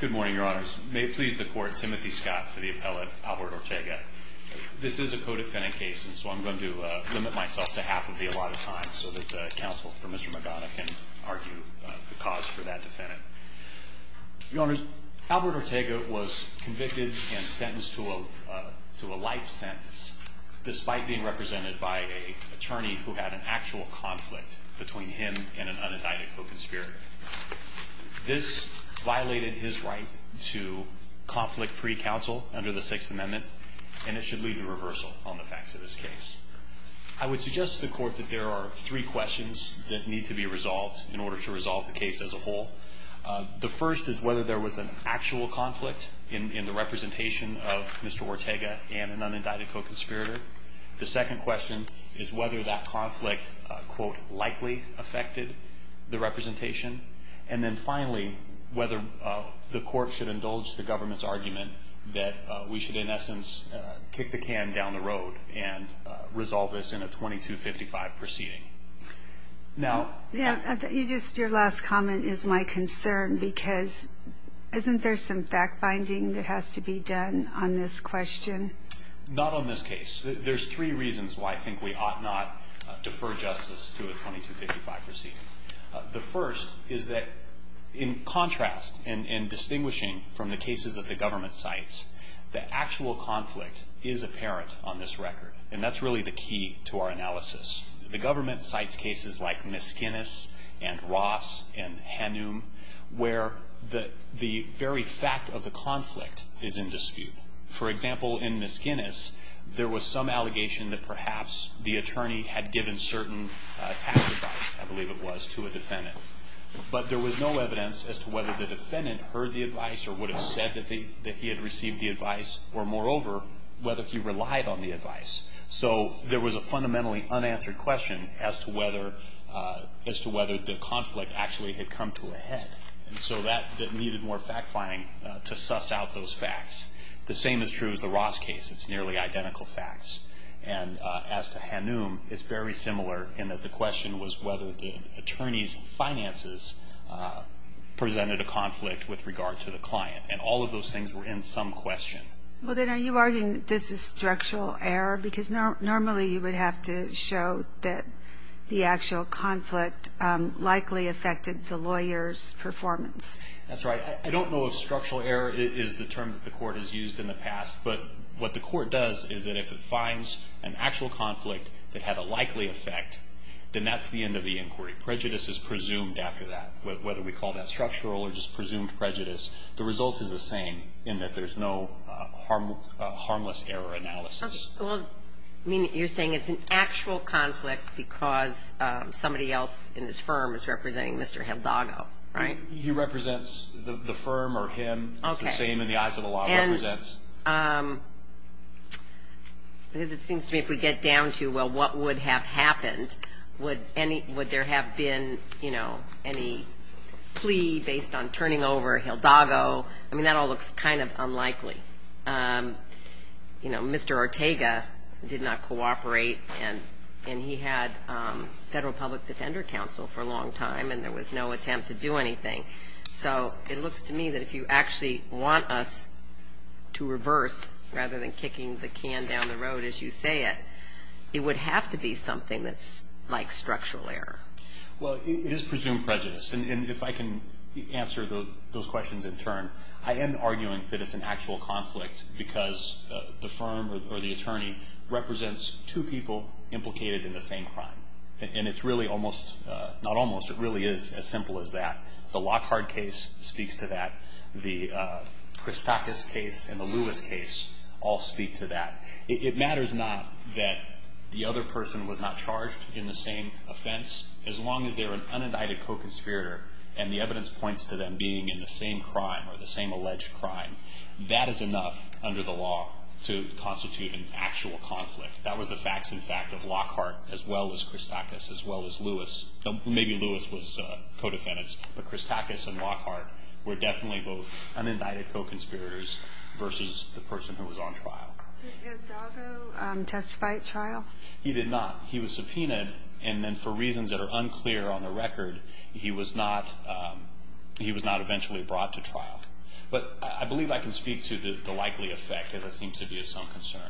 Good morning, your honors. May it please the court, Timothy Scott for the appellate Albert Ortega. This is a co-defendant case, and so I'm going to limit myself to half of the allotted time, so that counsel for Mr. Magana can argue the cause for that defendant. Your honors, Albert Ortega was convicted and sentenced to a life sentence, despite being represented by an attorney who had an actual conflict between him and an unindicted co-conspirator. This violated his right to conflict-free counsel under the Sixth Amendment, and it should lead to reversal on the facts of this case. I would suggest to the court that there are three questions that need to be resolved in order to resolve the case as a whole. The first is whether there was an actual conflict in the representation of Mr. Ortega and an unindicted co-conspirator. The second question is whether that conflict, quote, likely affected the representation. And then finally, whether the court should indulge the government's argument that we should, in essence, kick the can down the road and resolve this in a 2255 proceeding. Now- Your last comment is my concern, because isn't there some fact-finding that has to be done on this question? Not on this case. There's three reasons why I think we ought not defer justice to a 2255 proceeding. The first is that, in contrast and distinguishing from the cases that the government cites, the actual conflict is apparent on this record, and that's really the key to our analysis. The government cites cases like Miskinnis and Ross and Hanum, where the very fact of the conflict is in dispute. For example, in Miskinnis, there was some allegation that perhaps the attorney had given certain tax advice, I believe it was, to a defendant. But there was no evidence as to whether the defendant heard the advice or would have said that he had received the advice, or moreover, whether he relied on the advice. So there was a fundamentally unanswered question as to whether the conflict actually had come to a head. And so that needed more fact-finding to suss out those facts. The same is true as the Ross case. It's nearly identical facts. And as to Hanum, it's very similar in that the question was whether the attorney's finances presented a conflict with regard to the client. And all of those things were in some question. Well, then are you arguing that this is structural error? Because normally you would have to show that the actual conflict likely affected the lawyer's performance. That's right. I don't know if structural error is the term that the court has used in the past. But what the court does is that if it finds an actual conflict that had a likely effect, then that's the end of the inquiry. Prejudice is presumed after that, whether we call that structural or just presumed prejudice. The result is the same in that there's no harmless error analysis. Well, you're saying it's an actual conflict because somebody else in this firm is representing Mr. Hildago, right? He represents the firm or him. It's the same in the eyes of the law. Because it seems to me if we get down to, well, what would have happened, would there have been any plea based on turning over Hildago? I mean, that all looks kind of unlikely. You know, Mr. Ortega did not cooperate, and he had federal public defender counsel for a long time, and there was no attempt to do anything. So it looks to me that if you actually want us to reverse rather than kicking the can down the road as you say it, it would have to be something that's like structural error. Well, it is presumed prejudice. And if I can answer those questions in turn, I am arguing that it's an actual conflict because the firm or the attorney represents two people implicated in the same crime. And it's really almost, not almost, it really is as simple as that. The Lockhart case speaks to that. The Christakis case and the Lewis case all speak to that. It matters not that the other person was not charged in the same offense, as long as they're an unindicted co-conspirator and the evidence points to them being in the same crime or the same alleged crime. That is enough under the law to constitute an actual conflict. That was the facts, in fact, of Lockhart as well as Christakis as well as Lewis. Maybe Lewis was co-defendants, but Christakis and Lockhart were definitely both unindicted co-conspirators versus the person who was on trial. Did Odago testify at trial? He did not. He was subpoenaed, and then for reasons that are unclear on the record, he was not eventually brought to trial. But I believe I can speak to the likely effect, as it seems to be of some concern.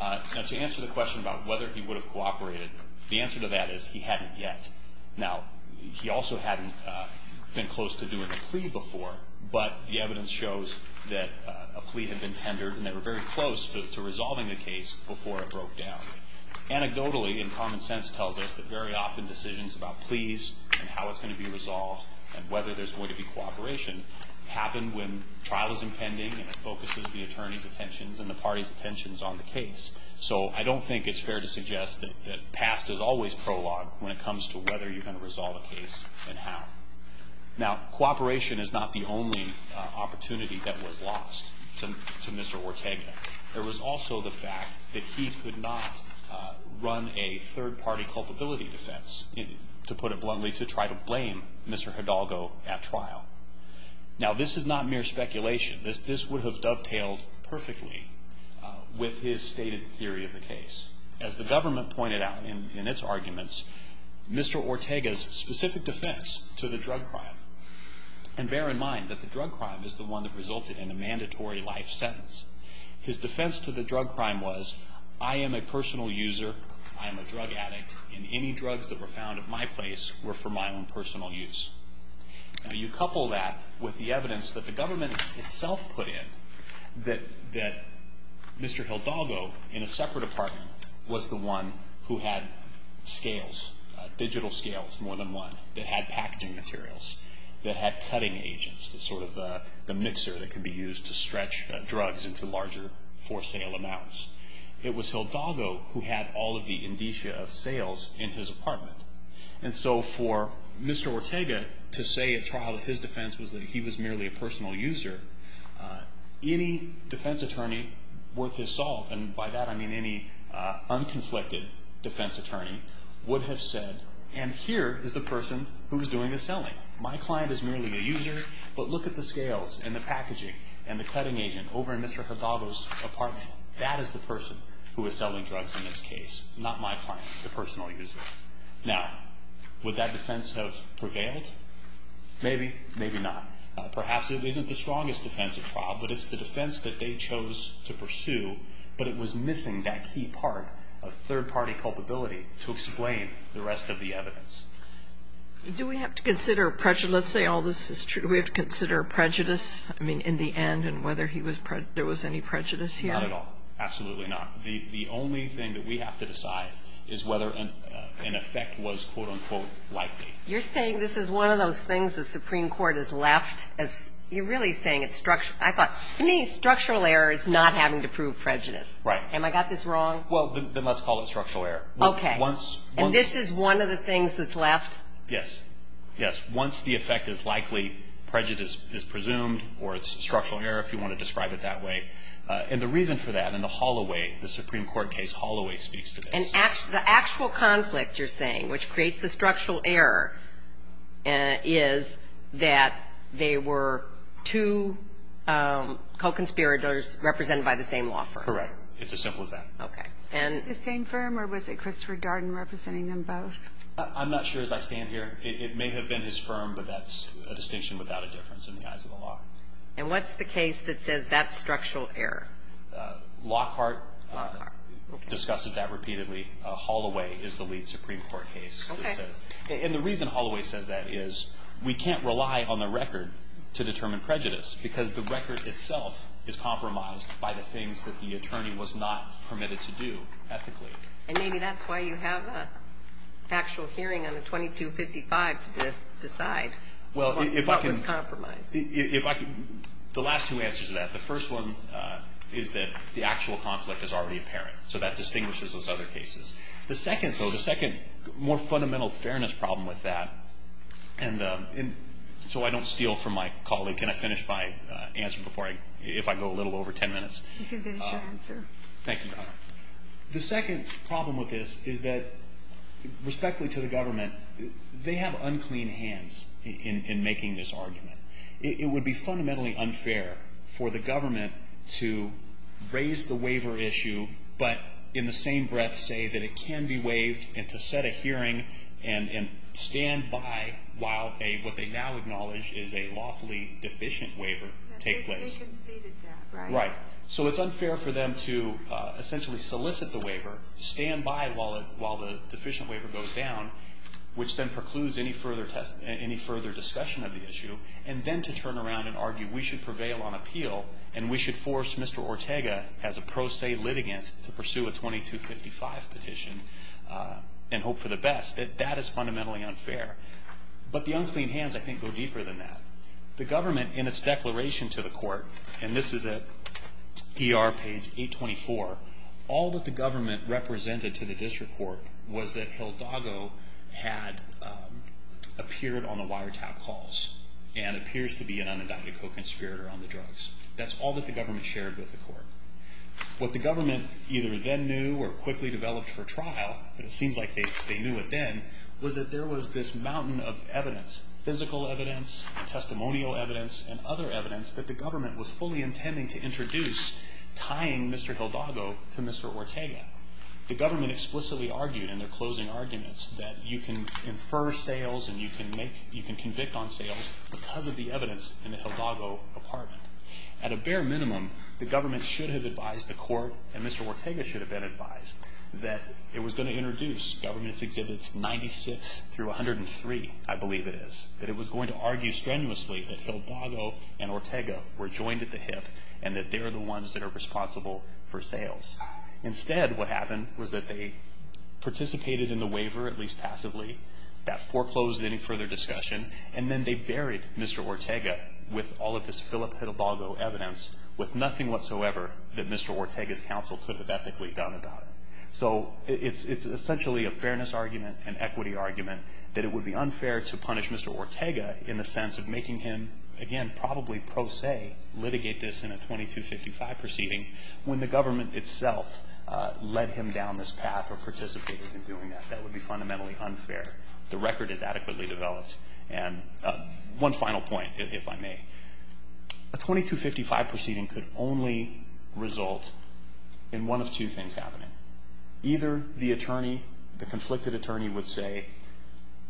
Now, to answer the question about whether he would have cooperated, the answer to that is he hadn't yet. Now, he also hadn't been close to doing a plea before, but the evidence shows that a plea had been tendered and they were very close to resolving the case before it broke down. Anecdotally, and common sense tells us that very often decisions about pleas and how it's going to be resolved and whether there's going to be cooperation happen when trial is impending and it focuses the attorney's attentions and the party's attentions on the case. So I don't think it's fair to suggest that past is always prologue when it comes to whether you're going to resolve a case and how. Now, cooperation is not the only opportunity that was lost to Mr. Ortega. There was also the fact that he could not run a third-party culpability defense, to put it bluntly, to try to blame Mr. Hidalgo at trial. Now, this is not mere speculation. This would have dovetailed perfectly with his stated theory of the case. As the government pointed out in its arguments, Mr. Ortega's specific defense to the drug crime, and bear in mind that the drug crime is the one that resulted in a mandatory life sentence, his defense to the drug crime was, I am a personal user, I am a drug addict, and any drugs that were found at my place were for my own personal use. Now, you couple that with the evidence that the government itself put in that Mr. Hidalgo, in a separate apartment, was the one who had scales, digital scales more than one, that had packaging materials, that had cutting agents, the sort of mixer that could be used to stretch drugs into larger for-sale amounts. It was Hidalgo who had all of the indicia of sales in his apartment. And so for Mr. Ortega to say at trial that his defense was that he was merely a personal user, any defense attorney worth his salt, and by that I mean any unconflicted defense attorney, would have said, and here is the person who is doing the selling. My client is merely a user, but look at the scales and the packaging and the cutting agent over in Mr. Hidalgo's apartment. That is the person who is selling drugs in this case, not my client, the personal user. Now, would that defense have prevailed? Maybe, maybe not. Perhaps it isn't the strongest defense at trial, but it's the defense that they chose to pursue, but it was missing that key part of third-party culpability to explain the rest of the evidence. Do we have to consider prejudice? Let's say all this is true. Do we have to consider prejudice? I mean, in the end, and whether there was any prejudice here? Not at all. Absolutely not. The only thing that we have to decide is whether an effect was, quote, unquote, likely. You're saying this is one of those things the Supreme Court has left. You're really saying it's structural. I thought, to me, structural error is not having to prove prejudice. Right. Am I got this wrong? Well, then let's call it structural error. Okay. And this is one of the things that's left? Yes. Yes. Once the effect is likely, prejudice is presumed, or it's structural error, if you want to describe it that way. And the reason for that, in the Holloway, the Supreme Court case, Holloway speaks to this. The actual conflict you're saying, which creates the structural error, is that they were two co-conspirators represented by the same law firm. Correct. It's as simple as that. Okay. The same firm, or was it Christopher Darden representing them both? I'm not sure as I stand here. It may have been his firm, but that's a distinction without a difference in the eyes of the law. And what's the case that says that's structural error? Lockhart. Lockhart. Okay. Discusses that repeatedly. Holloway is the lead Supreme Court case that says. Okay. And the reason Holloway says that is we can't rely on the record to determine prejudice, because the record itself is compromised by the things that the attorney was not permitted to do ethically. And maybe that's why you have an actual hearing on the 2255 to decide what was compromised. The last two answers to that. The first one is that the actual conflict is already apparent. So that distinguishes those other cases. The second, though, the second more fundamental fairness problem with that, and so I don't steal from my colleague and I finish my answer if I go a little over ten minutes. You can finish your answer. Thank you, Your Honor. The second problem with this is that, respectfully to the government, they have unclean hands in making this argument. It would be fundamentally unfair for the government to raise the waiver issue but in the same breath say that it can be waived and to set a hearing and stand by while what they now acknowledge is a lawfully deficient waiver take place. They conceded that, right? Right. So it's unfair for them to essentially solicit the waiver, stand by while the deficient waiver goes down, which then precludes any further discussion of the issue, and then to turn around and argue we should prevail on appeal and we should force Mr. Ortega as a pro se litigant to pursue a 2255 petition and hope for the best. That is fundamentally unfair. But the unclean hands, I think, go deeper than that. The government in its declaration to the court, and this is at ER page 824, all that the government represented to the district court was that Hildago had appeared on the wiretap calls and appears to be an unindicted co-conspirator on the drugs. That's all that the government shared with the court. What the government either then knew or quickly developed for trial, but it seems like they knew it then, was that there was this mountain of evidence, physical evidence, testimonial evidence, and other evidence that the government was fully intending to introduce tying Mr. Hildago to Mr. Ortega. The government explicitly argued in their closing arguments that you can infer sales and you can convict on sales because of the evidence in the Hildago apartment. At a bare minimum, the government should have advised the court, and Mr. Ortega should have been advised, that it was going to introduce Government Exhibits 96 through 103, I believe it is, that it was going to argue strenuously that Hildago and Ortega were joined at the hip and that they are the ones that are responsible for sales. Instead, what happened was that they participated in the waiver, at least passively, that foreclosed any further discussion, and then they buried Mr. Ortega with all of this Philip Hildago evidence with nothing whatsoever that Mr. Ortega's counsel could have ethically done about it. So it's essentially a fairness argument, an equity argument, that it would be unfair to punish Mr. Ortega in the sense of making him, again, probably pro se, litigate this in a 2255 proceeding when the government itself led him down this path or participated in doing that. That would be fundamentally unfair. The record is adequately developed. And one final point, if I may. A 2255 proceeding could only result in one of two things happening. Either the attorney, the conflicted attorney, would say,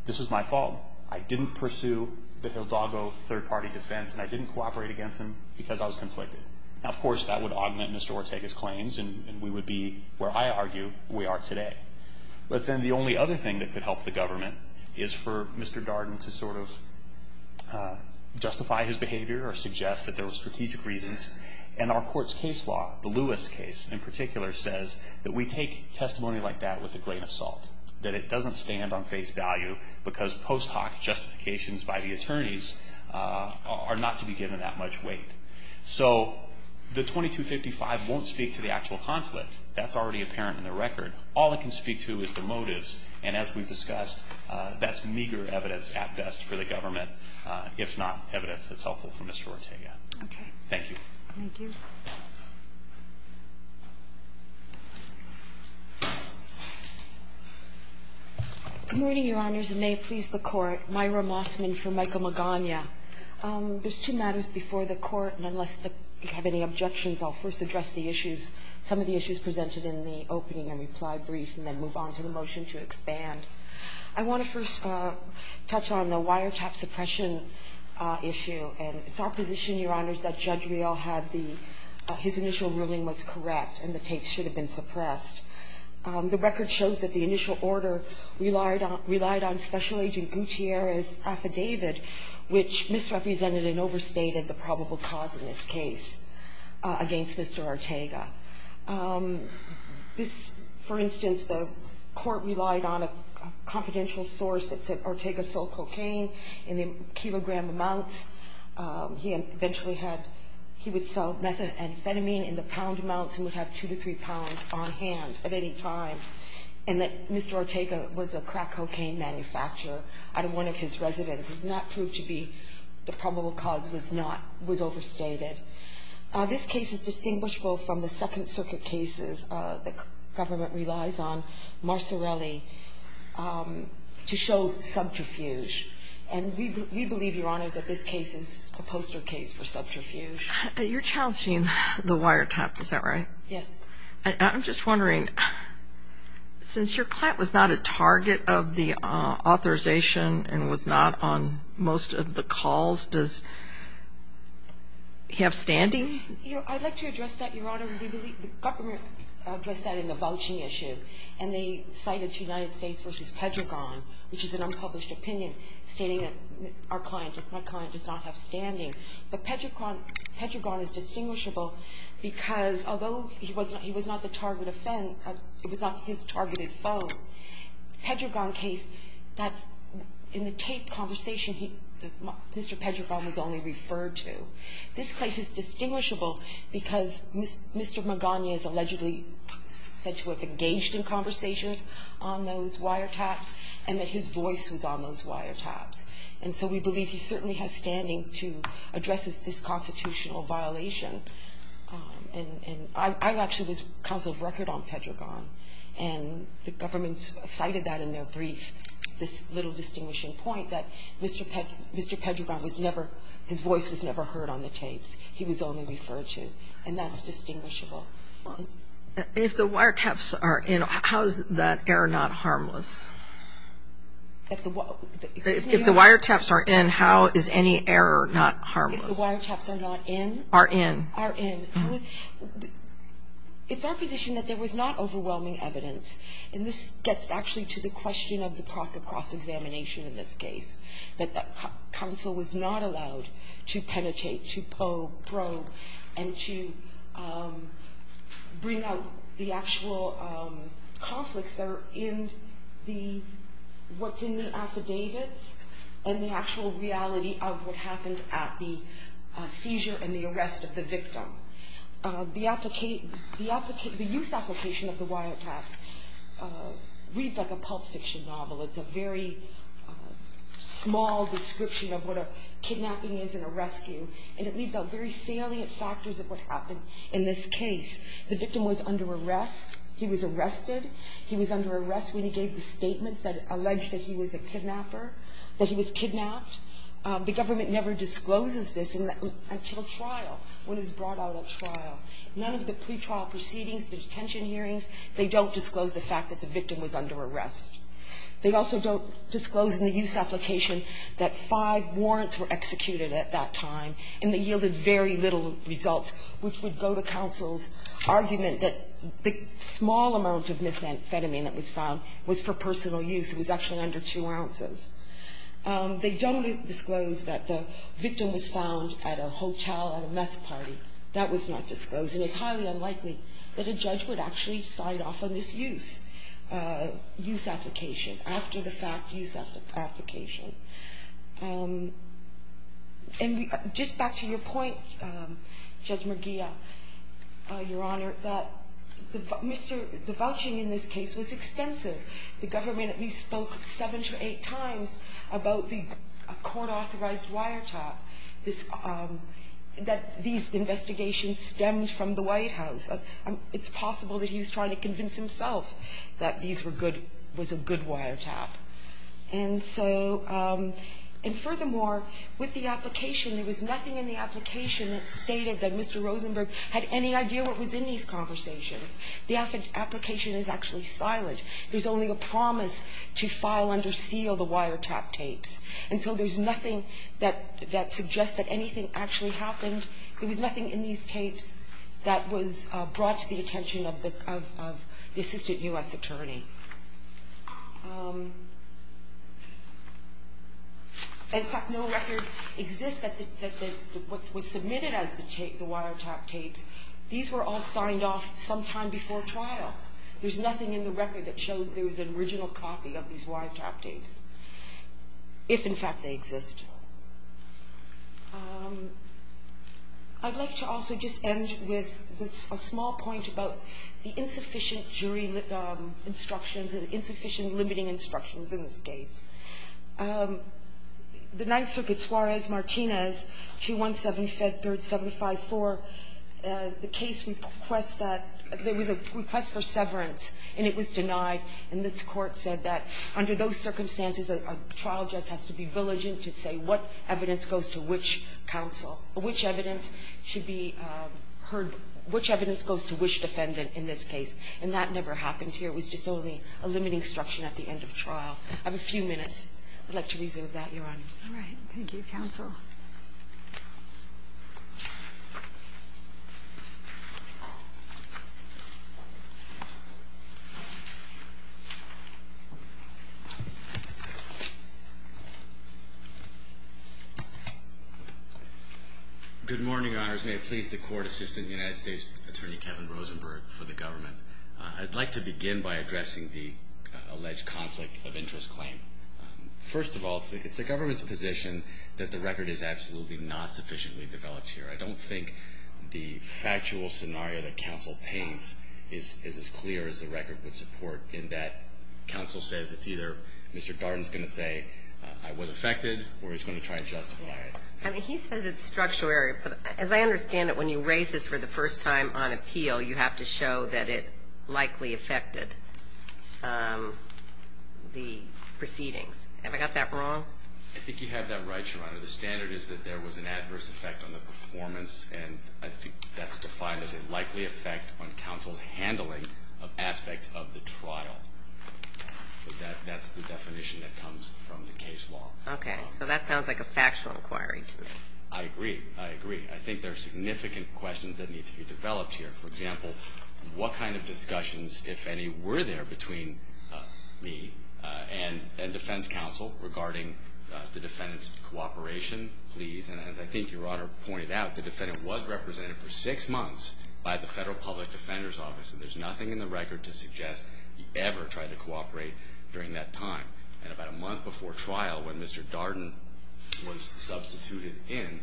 This is my fault. I didn't pursue the Hildago third-party defense and I didn't cooperate against him because I was conflicted. Now, of course, that would augment Mr. Ortega's claims and we would be where I argue we are today. But then the only other thing that could help the government is for Mr. Darden to sort of justify his behavior or suggest that there were strategic reasons. And our court's case law, the Lewis case in particular, says that we take testimony like that with a grain of salt, that it doesn't stand on face value because post hoc justifications by the attorneys are not to be given that much weight. So the 2255 won't speak to the actual conflict. That's already apparent in the record. All it can speak to is the motives. And as we've discussed, that's meager evidence at best for the government, if not evidence that's helpful for Mr. Ortega. Thank you. Good morning, Your Honors. And may it please the Court. Myra Mossman for Michael Magana. There's two matters before the Court. And unless you have any objections, I'll first address the issues, some of the issues presented in the opening and reply briefs and then move on to the motion to expand. I want to first touch on the wiretap suppression issue. His initial ruling was correct, and the tape should have been suppressed. The record shows that the initial order relied on Special Agent Gutierrez's affidavit, which misrepresented and overstated the probable cause in this case against Mr. Ortega. This, for instance, the Court relied on a confidential source that said Ortega sold cocaine in the kilogram amounts. He eventually had, he would sell methamphetamine in the pound amounts and would have two to three pounds on hand at any time, and that Mr. Ortega was a crack cocaine manufacturer out of one of his residences. And that proved to be the probable cause was not, was overstated. This case is distinguishable from the Second Circuit cases the government relies on, Marsorelli, to show subterfuge. And we believe, Your Honor, that this case is a poster case for subterfuge. You're challenging the wiretap, is that right? Yes. I'm just wondering, since your client was not a target of the authorization and was not on most of the calls, does he have standing? I'd like to address that, Your Honor. The government addressed that in the vouching issue, and they cited United States v. Pedregon, which is an unpublished opinion, stating that our client, my client does not have standing. But Pedregon is distinguishable because although he was not the target of Fenn, it was not his targeted foe. Pedregon case, that in the tape conversation, Mr. Pedregon was only referred to. This case is distinguishable because Mr. Magana is allegedly said to have engaged in conversations on those wiretaps and that his voice was on those wiretaps. And so we believe he certainly has standing to address this constitutional violation. And I actually was counsel of record on Pedregon, and the government cited that in their brief, this little distinguishing point that Mr. Pedregon was never his voice was never heard on the tapes. He was only referred to. And that's distinguishable. If the wiretaps are in, how is that error not harmless? If the wiretaps are in, how is any error not harmless? If the wiretaps are not in? Are in. Are in. It's our position that there was not overwhelming evidence, and this gets actually to the question of the proper cross-examination in this case. That the counsel was not allowed to penetrate, to probe, and to bring out the actual conflicts that are in what's in the affidavits and the actual reality of what happened at the seizure and the arrest of the victim. The use application of the wiretaps reads like a pulp fiction novel. It's a very small description of what a kidnapping is in a rescue, and it leaves out very salient factors of what happened in this case. The victim was under arrest. He was arrested. He was under arrest when he gave the statements that alleged that he was a kidnapper, that he was kidnapped. The government never discloses this until trial, when it's brought out at trial. None of the pretrial proceedings, the detention hearings, they don't disclose the fact that the victim was under arrest. They also don't disclose in the use application that five warrants were executed at that time, and they yielded very little results, which would go to counsel's argument that the small amount of methamphetamine that was found was for personal use. It was actually under two ounces. They don't disclose that the victim was found at a hotel at a meth party. That was not disclosed. And it's highly unlikely that a judge would actually sign off on this use application after the fact use application. And just back to your point, Judge Murguia, Your Honor, that the vouching in this case was extensive. The government at least spoke seven to eight times about the court-authorized wiretap, that these investigations stemmed from the White House. It's possible that he was trying to convince himself that these were good – was a good wiretap. And so – and furthermore, with the application, there was nothing in the application that stated that Mr. Rosenberg had any idea what was in these conversations. The application is actually silent. There's only a promise to file under seal the wiretap tapes. And so there's nothing that suggests that anything actually happened. There was nothing in these tapes that was brought to the attention of the Assistant U.S. Attorney. In fact, no record exists that was submitted as the wiretap tapes. These were all signed off sometime before trial. There's nothing in the record that shows there was an original copy of these if, in fact, they exist. I'd like to also just end with a small point about the insufficient jury instructions and insufficient limiting instructions in this case. The Ninth Circuit, Suarez-Martinez, 217, Fed 3rd 754, the case requests that – there was a request for severance, and it was denied, and this Court said that under those what evidence goes to which counsel – which evidence should be heard – which evidence goes to which defendant in this case. And that never happened here. It was just only a limiting instruction at the end of trial. I have a few minutes. I'd like to resume with that, Your Honors. All right. Thank you, Counsel. Good morning, Your Honors. May it please the Court Assistant, United States Attorney Kevin Rosenberg, for the government. I'd like to begin by addressing the alleged conflict of interest claim. First of all, it's the government's position that the record is absolutely not sufficiently developed here. I don't think the factual scenario that counsel paints is as clear as the record would support in that counsel says it's either Mr. Darden's going to say, I was affected, or he's going to try and justify it. I mean, he says it's structured. As I understand it, when you raise this for the first time on appeal, you have to show that it likely affected the proceedings. Have I got that wrong? I think you have that right, Your Honor. The standard is that there was an adverse effect on the performance, and I think that's defined as a likely effect on counsel's handling of aspects of the trial. So that's the definition that comes from the case law. Okay. So that sounds like a factual inquiry to me. I agree. I agree. I think there are significant questions that need to be developed here. For example, what kind of discussions, if any, were there between me and defense counsel regarding the defendant's cooperation? Please. And as I think Your Honor pointed out, the defendant was represented for six months by the Federal Public Defender's Office, and there's nothing in the record to suggest he ever tried to cooperate during that time. And about a month before trial, when Mr. Darden was substituted in,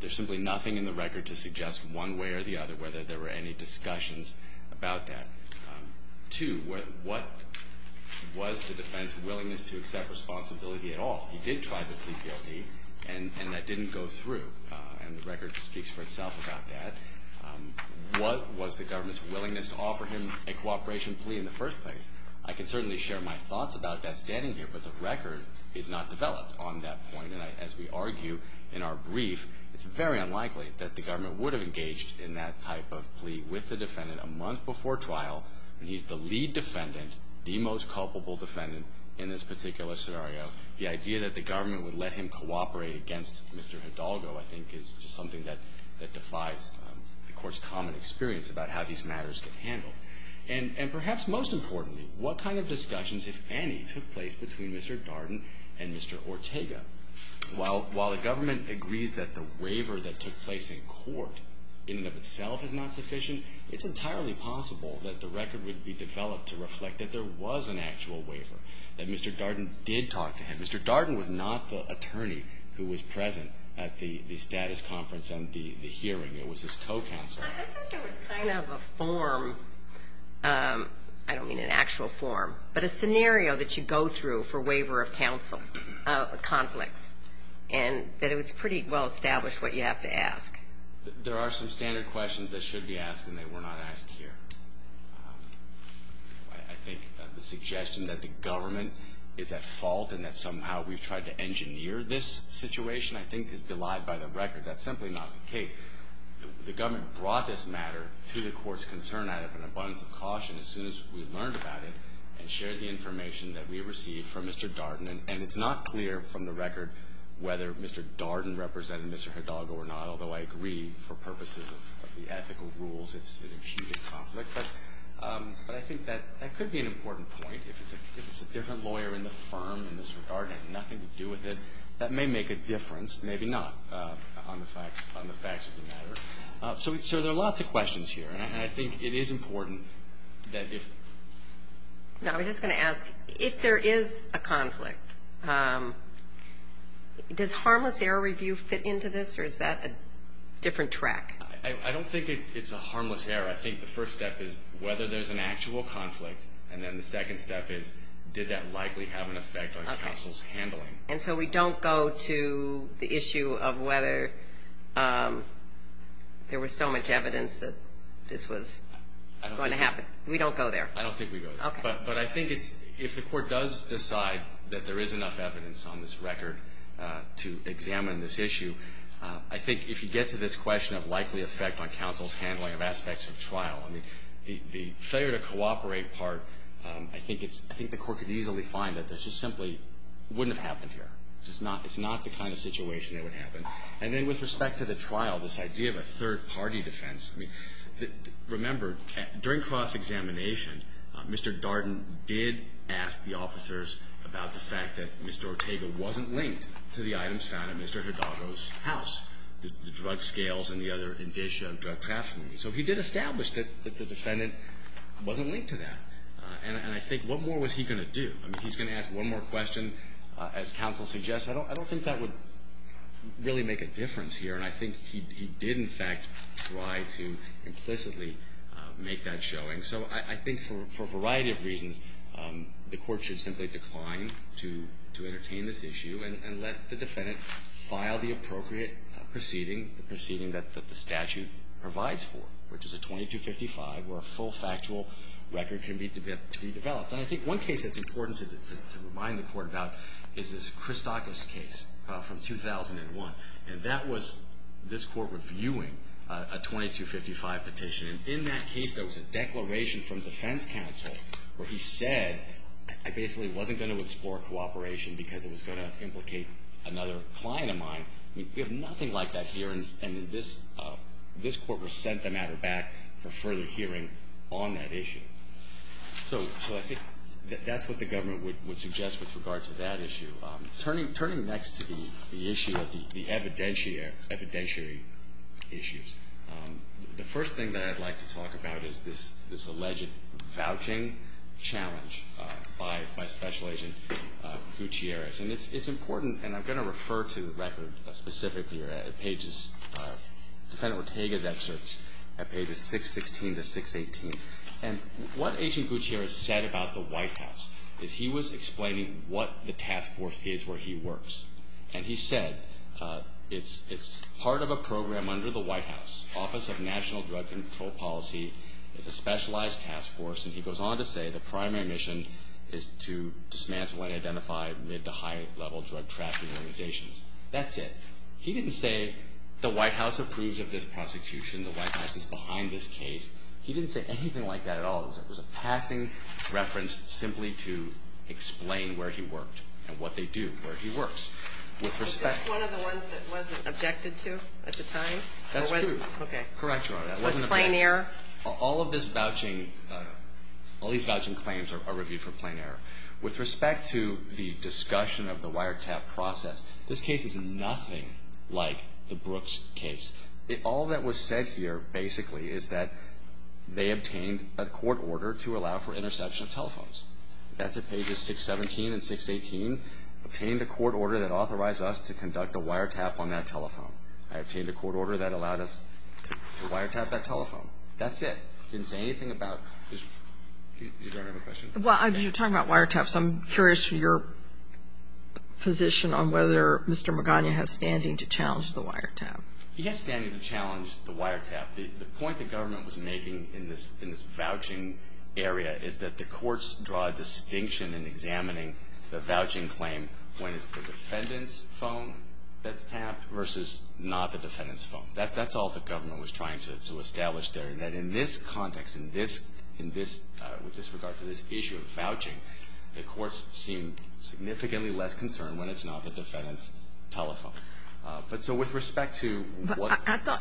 there's simply nothing in the record to suggest one way or the other whether there were any discussions about that. Two, what was the defense's willingness to accept responsibility at all? He did try to plead guilty, and that didn't go through, and the record speaks for itself about that. What was the government's willingness to offer him a cooperation plea in the first place? I can certainly share my thoughts about that standing here, but the record is not developed on that point. And as we argue in our brief, it's very unlikely that the government would have engaged in that type of plea with the defendant a month before trial, and he's the lead defendant, the most culpable defendant in this particular scenario. The idea that the government would let him cooperate against Mr. Hidalgo, I think, is just something that defies the Court's common experience about how these matters get handled. And perhaps most importantly, what kind of discussions, if any, took place between Mr. Hidalgo and Mr. Ortega? While the government agrees that the waiver that took place in court in and of itself is not sufficient, it's entirely possible that the record would be developed to reflect that there was an actual waiver, that Mr. Darden did talk to him. Mr. Darden was not the attorney who was present at the status conference and the hearing. It was his co-counsel. I think there was kind of a form, I don't mean an actual form, but a scenario that you go through for waiver of counsel conflicts, and that it was pretty well established what you have to ask. There are some standard questions that should be asked, and they were not asked here. I think the suggestion that the government is at fault and that somehow we've tried to engineer this situation, I think, is belied by the record. That's simply not the case. The government brought this matter to the Court's concern out of an abundance of caution as soon as we learned about it and shared the information that we received from Mr. Darden. And it's not clear from the record whether Mr. Darden represented Mr. Hidalgo or not, although I agree, for purposes of the ethical rules, it's an imputed conflict. But I think that could be an important point. If it's a different lawyer in the firm and Mr. Darden had nothing to do with it, that may make a difference, maybe not, on the facts of the matter. So there are lots of questions here, and I think it is important that if... I was just going to ask, if there is a conflict, does harmless error review fit into this, or is that a different track? I don't think it's a harmless error. I think the first step is whether there's an actual conflict, and then the second step is did that likely have an effect on counsel's handling. And so we don't go to the issue of whether there was so much evidence that this was going to happen. We don't go there. I don't think we go there. But I think if the court does decide that there is enough evidence on this record to examine this issue, I think if you get to this question of likely effect on counsel's handling of aspects of trial, I mean, the failure to cooperate part, I think the court could easily find that this just simply wouldn't have happened here. It's not the kind of situation that would happen. And then with respect to the trial, this idea of a third-party defense, I mean, remember, during cross-examination, Mr. Darden did ask the officers about the fact that Mr. Ortega wasn't linked to the items found in Mr. Hidalgo's house, the drug scales and the other indicia of drug trafficking. So he did establish that the defendant wasn't linked to that. And I think what more was he going to do? I mean, he's going to ask one more question, as counsel suggests. I don't think that would really make a difference here. And I think he did, in fact, try to implicitly make that showing. So I think for a variety of reasons, the court should simply decline to entertain this issue and let the defendant file the appropriate proceeding, the proceeding that the statute provides for, which is a 2255, where a full factual record can be developed. And I think one case that's important to remind the court about is this Christakis case from 2001. And that was this court reviewing a 2255 petition. And in that case, there was a declaration from defense counsel where he said, I basically wasn't going to explore cooperation because it was going to implicate another client of mine. We have nothing like that here, and this court was sent the matter back for further hearing on that issue. So I think that's what the government would suggest with regard to that issue. Turning next to the issue of the evidentiary issues, the first thing that I'd like to talk about is this alleged vouching challenge by Special Agent Gutierrez. And it's important, and I'm going to refer to the record specifically at pages, Defendant Ortega's excerpts at pages 616 to 618. And what Agent Gutierrez said about the White House is he was explaining what the task force is where he works. And he said, it's part of a program under the White House, Office of National Drug Control Policy. It's a specialized task force. And he goes on to say the primary mission is to dismantle and identify mid- to high-level drug trafficking organizations. That's it. He didn't say the White House approves of this prosecution, the White House is behind this case. He didn't say anything like that at all. It was a passing reference simply to explain where he worked and what they do, where he works. Was this one of the ones that wasn't objected to at the time? That's true. Okay. Correct, Your Honor. It was plain error? All of this vouching, all these vouching claims are reviewed for plain error. With respect to the discussion of the wiretap process, this case is nothing like the Brooks case. All that was said here basically is that they obtained a court order to allow for interception of telephones. That's at pages 617 and 618. Obtained a court order that authorized us to conduct a wiretap on that telephone. I obtained a court order that allowed us to wiretap that telephone. That's it. Didn't say anything about this. You don't have a question? Well, you're talking about wiretaps. I'm curious for your position on whether Mr. Magana has standing to challenge the wiretap. He has standing to challenge the wiretap. The point the government was making in this vouching area is that the courts draw a distinction in examining the vouching claim when it's the defendant's phone that's tapped versus not the defendant's phone. That's all the government was trying to establish there, that in this context, with this regard to this issue of vouching, the courts seem significantly less concerned when it's not the defendant's telephone. But so with respect to what- I thought,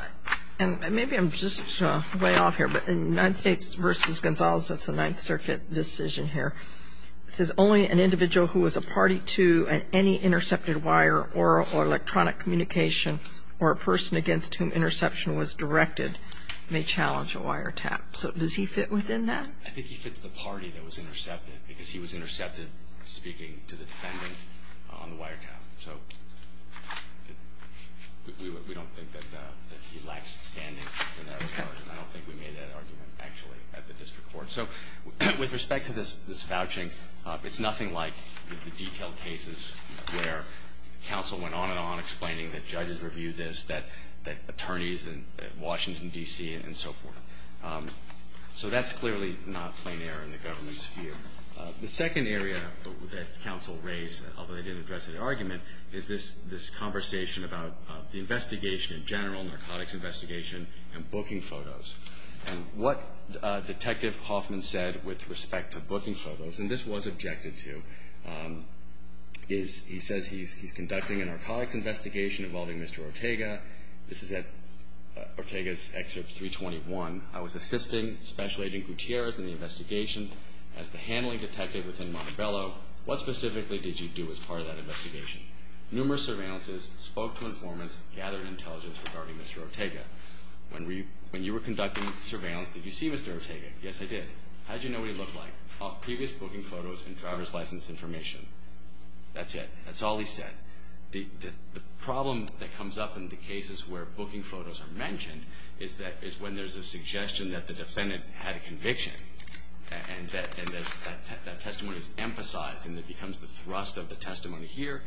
and maybe I'm just way off here, but in United States v. Gonzales, that's a Ninth Circuit decision here. It says only an individual who is a party to any intercepted wire or electronic communication or a person against whom interception was directed may challenge a wiretap. So does he fit within that? I think he fits the party that was intercepted because he was intercepted speaking to the defendant on the wiretap. So we don't think that he lacks standing in that regard, and I don't think we made that argument actually at the district court. So with respect to this vouching, it's nothing like the detailed cases where counsel went on and on explaining that judges reviewed this, that attorneys in Washington, D.C., and so forth. So that's clearly not plein air in the government's view. The second area that counsel raised, although they didn't address it in argument, is this conversation about the investigation in general, narcotics investigation, and booking photos. And what Detective Hoffman said with respect to booking photos, and this was objected to, is he says he's conducting a narcotics investigation involving Mr. Ortega. This is at Ortega's Excerpt 321. I was assisting Special Agent Gutierrez in the investigation as the handling detective within Montebello. What specifically did you do as part of that investigation? Numerous surveillances, spoke to informants, gathered intelligence regarding Mr. Ortega. When you were conducting surveillance, did you see Mr. Ortega? Yes, I did. How did you know what he looked like? Off previous booking photos and driver's license information. That's it. That's all he said. The problem that comes up in the cases where booking photos are mentioned is when there's a suggestion that the defendant had a conviction, and that testimony is emphasized and it becomes the thrust of the testimony. Here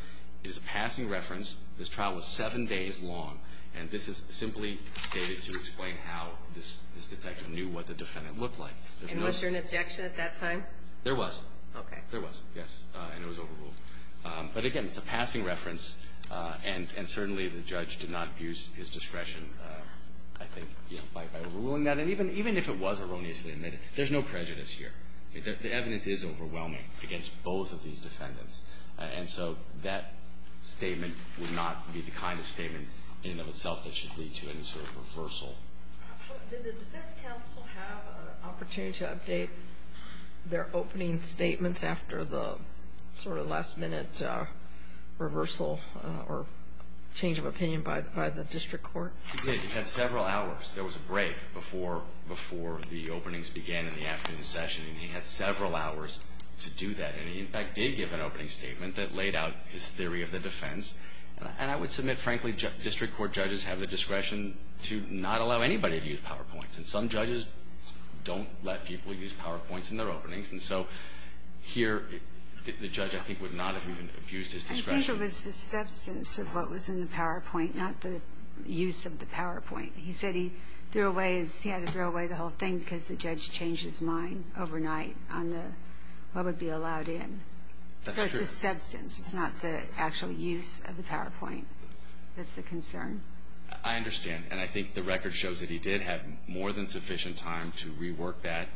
is a passing reference. This trial was seven days long, and this is simply stated to explain how this detective knew what the defendant looked like. And was there an objection at that time? There was. Okay. There was, yes, and it was overruled. But again, it's a passing reference, and certainly the judge did not abuse his discretion, I think, by ruling that. And even if it was erroneously admitted, there's no prejudice here. The evidence is overwhelming against both of these defendants. And so that statement would not be the kind of statement in and of itself that should lead to any sort of reversal. Did the defense counsel have an opportunity to update their opening statements after the sort of last-minute reversal or change of opinion by the district court? He did. He had several hours. There was a break before the openings began in the afternoon session, and he had several hours to do that. And he, in fact, did give an opening statement that laid out his theory of the defense. And I would submit, frankly, district court judges have the discretion to not allow anybody to use PowerPoints, and some judges don't let people use PowerPoints in their openings. And so here, the judge, I think, would not have even abused his discretion. I think it was the substance of what was in the PowerPoint, not the use of the PowerPoint. He said he threw away his – he had to throw away the whole thing because the judge changed his mind overnight on the – what would be allowed in. That's true. It was the substance. It's not the actual use of the PowerPoint. That's the concern. I understand. And I think the record shows that he did have more than sufficient time to rework that.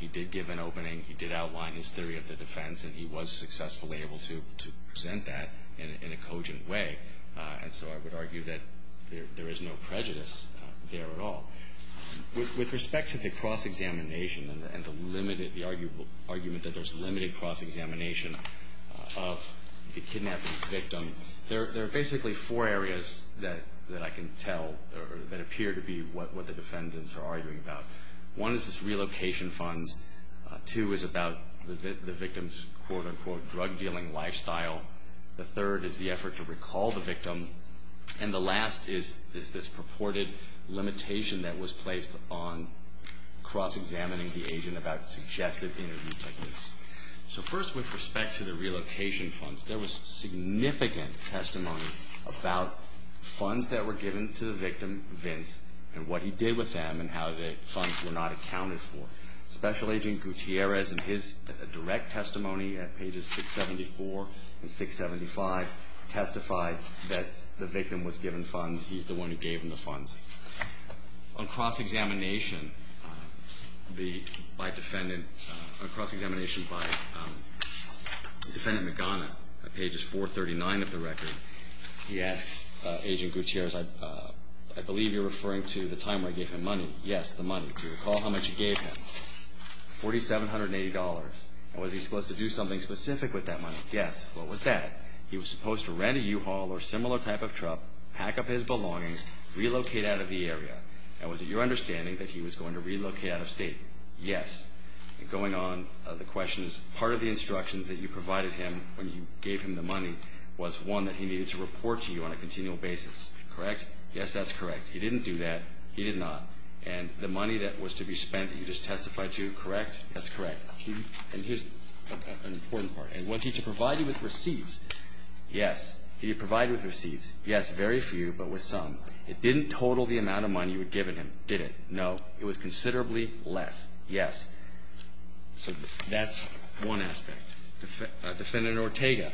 He did give an opening. He did outline his theory of the defense, and he was successfully able to present that in a cogent way. And so I would argue that there is no prejudice there at all. With respect to the cross-examination and the limited – the argument that there's limited cross-examination of the kidnapping victim, there are basically four areas that I can tell that appear to be what the defendants are arguing about. One is this relocation funds. Two is about the victim's, quote-unquote, drug-dealing lifestyle. The third is the effort to recall the victim. And the last is this purported limitation that was placed on cross-examining the agent about suggestive interview techniques. So first, with respect to the relocation funds, there was significant testimony about funds that were given to the victim, Vince, and what he did with them and how the funds were not accounted for. Special Agent Gutierrez, in his direct testimony at pages 674 and 675, testified that the victim was given funds. He's the one who gave him the funds. On cross-examination, the – by defendant – on cross-examination by Defendant Magana, at pages 439 of the record, he asks Agent Gutierrez, I believe you're referring to the time where I gave him money. Yes, the money. Do you recall how much you gave him? $4,780. Now, was he supposed to do something specific with that money? Yes. What was that? He was supposed to rent a U-Haul or similar type of truck, pack up his belongings, relocate out of the area. Now, was it your understanding that he was going to relocate out of state? Yes. Going on, the question is, part of the instructions that you provided him when you gave him the money was, one, that he needed to report to you on a continual basis, correct? Yes, that's correct. He didn't do that. He did not. And the money that was to be spent that you just testified to, correct? That's correct. And here's an important part. And was he to provide you with receipts? Yes. Did he provide you with receipts? Yes. Very few, but with some. It didn't total the amount of money you had given him, did it? No. It was considerably less. Yes. So that's one aspect. Defendant Ortega,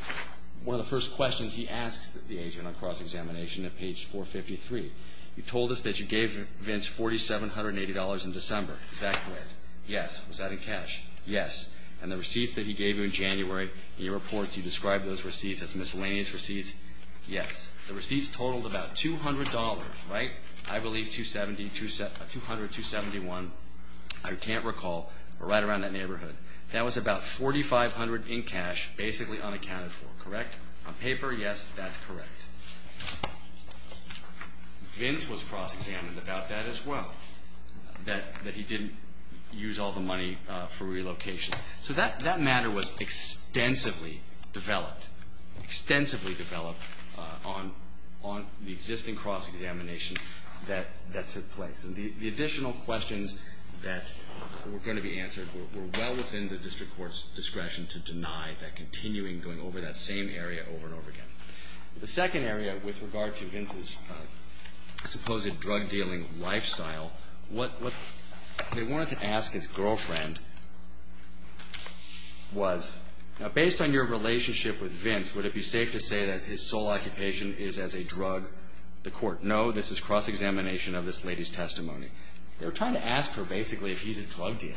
one of the first questions he asks the agent on cross-examination at page 453, you told us that you gave Vince $4,780 in December. Is that correct? Yes. Was that in cash? Yes. And the receipts that he gave you in January, in your reports, you described those receipts as miscellaneous receipts. Yes. The receipts totaled about $200, right? I believe $270, $200, $271. I can't recall. We're right around that neighborhood. That was about $4,500 in cash, basically unaccounted for, correct? On paper, yes, that's correct. Vince was cross-examined about that as well, that he didn't use all the money for relocation. So that matter was extensively developed, extensively developed, on the existing cross-examination that took place. And the additional questions that were going to be answered were well within the district court's discretion to deny that continuing going over that same area over and over again. The second area, with regard to Vince's supposed drug-dealing lifestyle, what they wanted to ask his girlfriend was, based on your relationship with Vince, would it be safe to say that his sole occupation is as a drug, the court? No, this is cross-examination of this lady's testimony. They were trying to ask her, basically, if he's a drug dealer.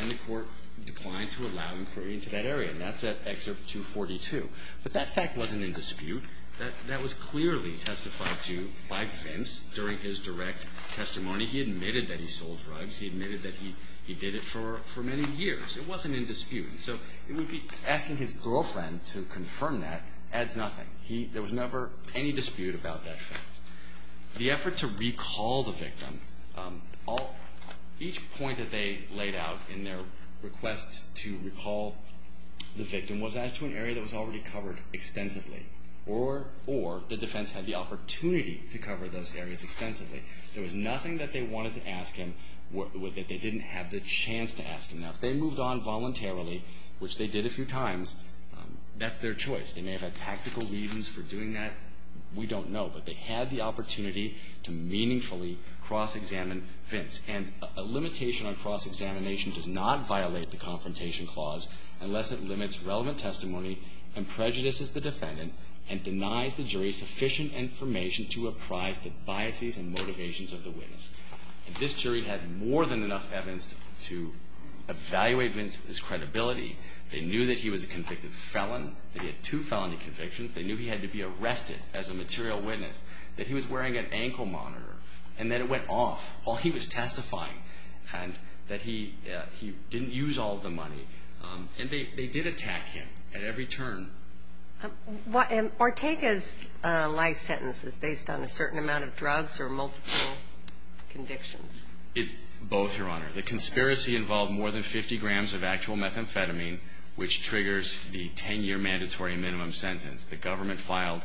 And the court declined to allow inquiry into that area. And that's at Excerpt 242. But that fact wasn't in dispute. That was clearly testified to by Vince during his direct testimony. He admitted that he sold drugs. He admitted that he did it for many years. It wasn't in dispute. So asking his girlfriend to confirm that adds nothing. There was never any dispute about that fact. The effort to recall the victim, each point that they laid out in their request to recall the victim was as to an area that was already covered extensively, or the defense had the opportunity to cover those areas extensively. There was nothing that they wanted to ask him that they didn't have the chance to ask him. Now, if they moved on voluntarily, which they did a few times, that's their choice. They may have had tactical reasons for doing that. We don't know. But they had the opportunity to meaningfully cross-examine Vince. And a limitation on cross-examination does not violate the Confrontation Clause unless it limits relevant testimony and prejudices the defendant and denies the jury sufficient information to reprise the biases and motivations of the witness. And this jury had more than enough evidence to evaluate Vince's credibility. They knew that he was a convicted felon. They had two felony convictions. They knew he had to be arrested as a material witness, that he was wearing an ankle monitor, and that it went off while he was testifying, and that he didn't use all of the money. And they did attack him at every turn. And Ortega's life sentence is based on a certain amount of drugs or multiple convictions? Both, Your Honor. The conspiracy involved more than 50 grams of actual methamphetamine, which triggers the 10-year mandatory minimum sentence. The government filed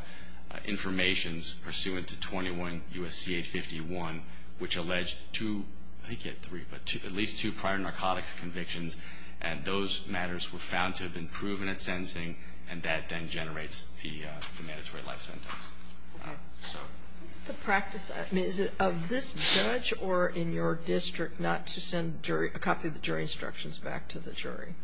informations pursuant to 21 U.S.C. 851, which alleged two, I think you had three, but at least two prior narcotics convictions. And those matters were found to have been proven at sentencing, and that then generates the mandatory life sentence. All right. So. What's the practice? I mean, is it of this judge or in your district not to send a copy of the jury instructions back to the jury?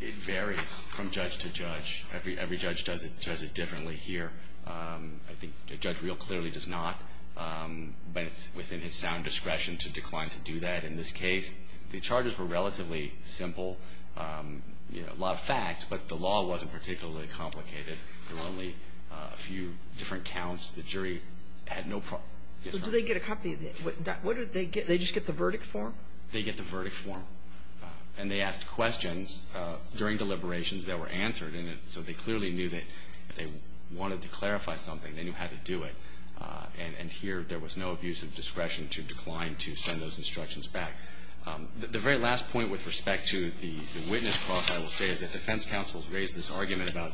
It varies from judge to judge. Every judge does it differently here. I think a judge real clearly does not, but it's within his sound discretion to decline to do that. In this case, the charges were relatively simple, you know, a lot of facts, but the law wasn't particularly complicated. There were only a few different counts. The jury had no problem. So do they get a copy? What do they get? They just get the verdict form? They get the verdict form. And they asked questions during deliberations that were answered, and so they clearly knew that if they wanted to clarify something, they knew how to do it. And here there was no abuse of discretion to decline to send those instructions back. The very last point with respect to the witness cross, I will say, is that defense counsels raised this argument about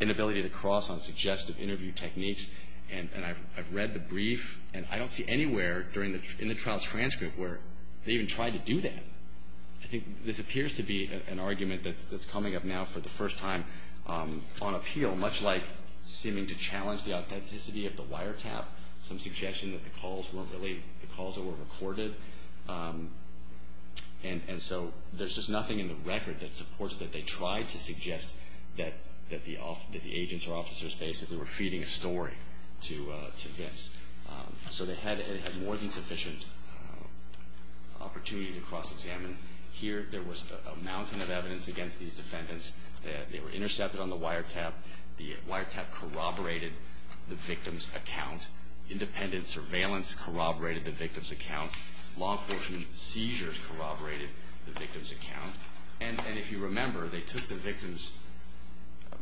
inability to cross on suggestive interview techniques. And I've read the brief, and I don't see anywhere in the trial transcript where they even tried to do that. I think this appears to be an argument that's coming up now for the first time on appeal, much like seeming to challenge the authenticity of the wiretap, some suggestion that the calls weren't really the calls that were recorded. And so there's just nothing in the record that supports that they tried to suggest that the agents or officers basically were feeding a story to Vince. So they had more than sufficient opportunity to cross-examine. Here there was a mountain of evidence against these defendants. They were intercepted on the wiretap. The wiretap corroborated the victim's account. Independent surveillance corroborated the victim's account. Law enforcement seizures corroborated the victim's account. And if you remember, they took the victim's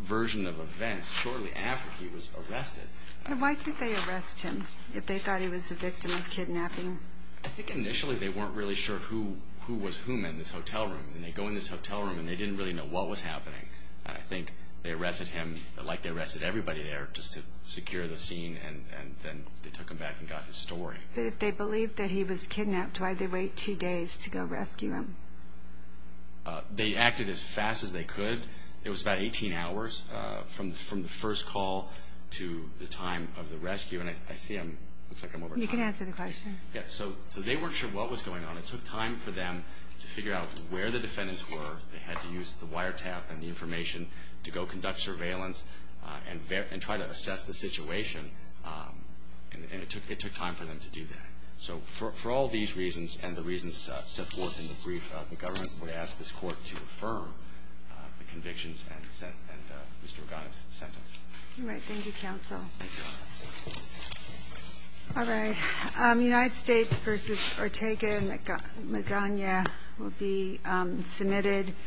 version of events shortly after he was arrested. And why didn't they arrest him if they thought he was the victim of kidnapping? I think initially they weren't really sure who was whom in this hotel room. And they go in this hotel room, and they didn't really know what was happening. And I think they arrested him like they arrested everybody there just to secure the scene, and then they took him back and got his story. But if they believed that he was kidnapped, why'd they wait two days to go rescue him? They acted as fast as they could. It was about 18 hours from the first call to the time of the rescue. And I see I'm over time. You can answer the question. So they weren't sure what was going on. It took time for them to figure out where the defendants were. They had to use the wiretap and the information to go conduct surveillance and try to assess the situation. And it took time for them to do that. So for all these reasons and the reasons set forth in the brief, the government would ask this court to affirm the convictions and Mr. Ogana's sentence. All right. Thank you, counsel. Thank you, Your Honor. All right. United States v. Ortega and Magana will be submitted.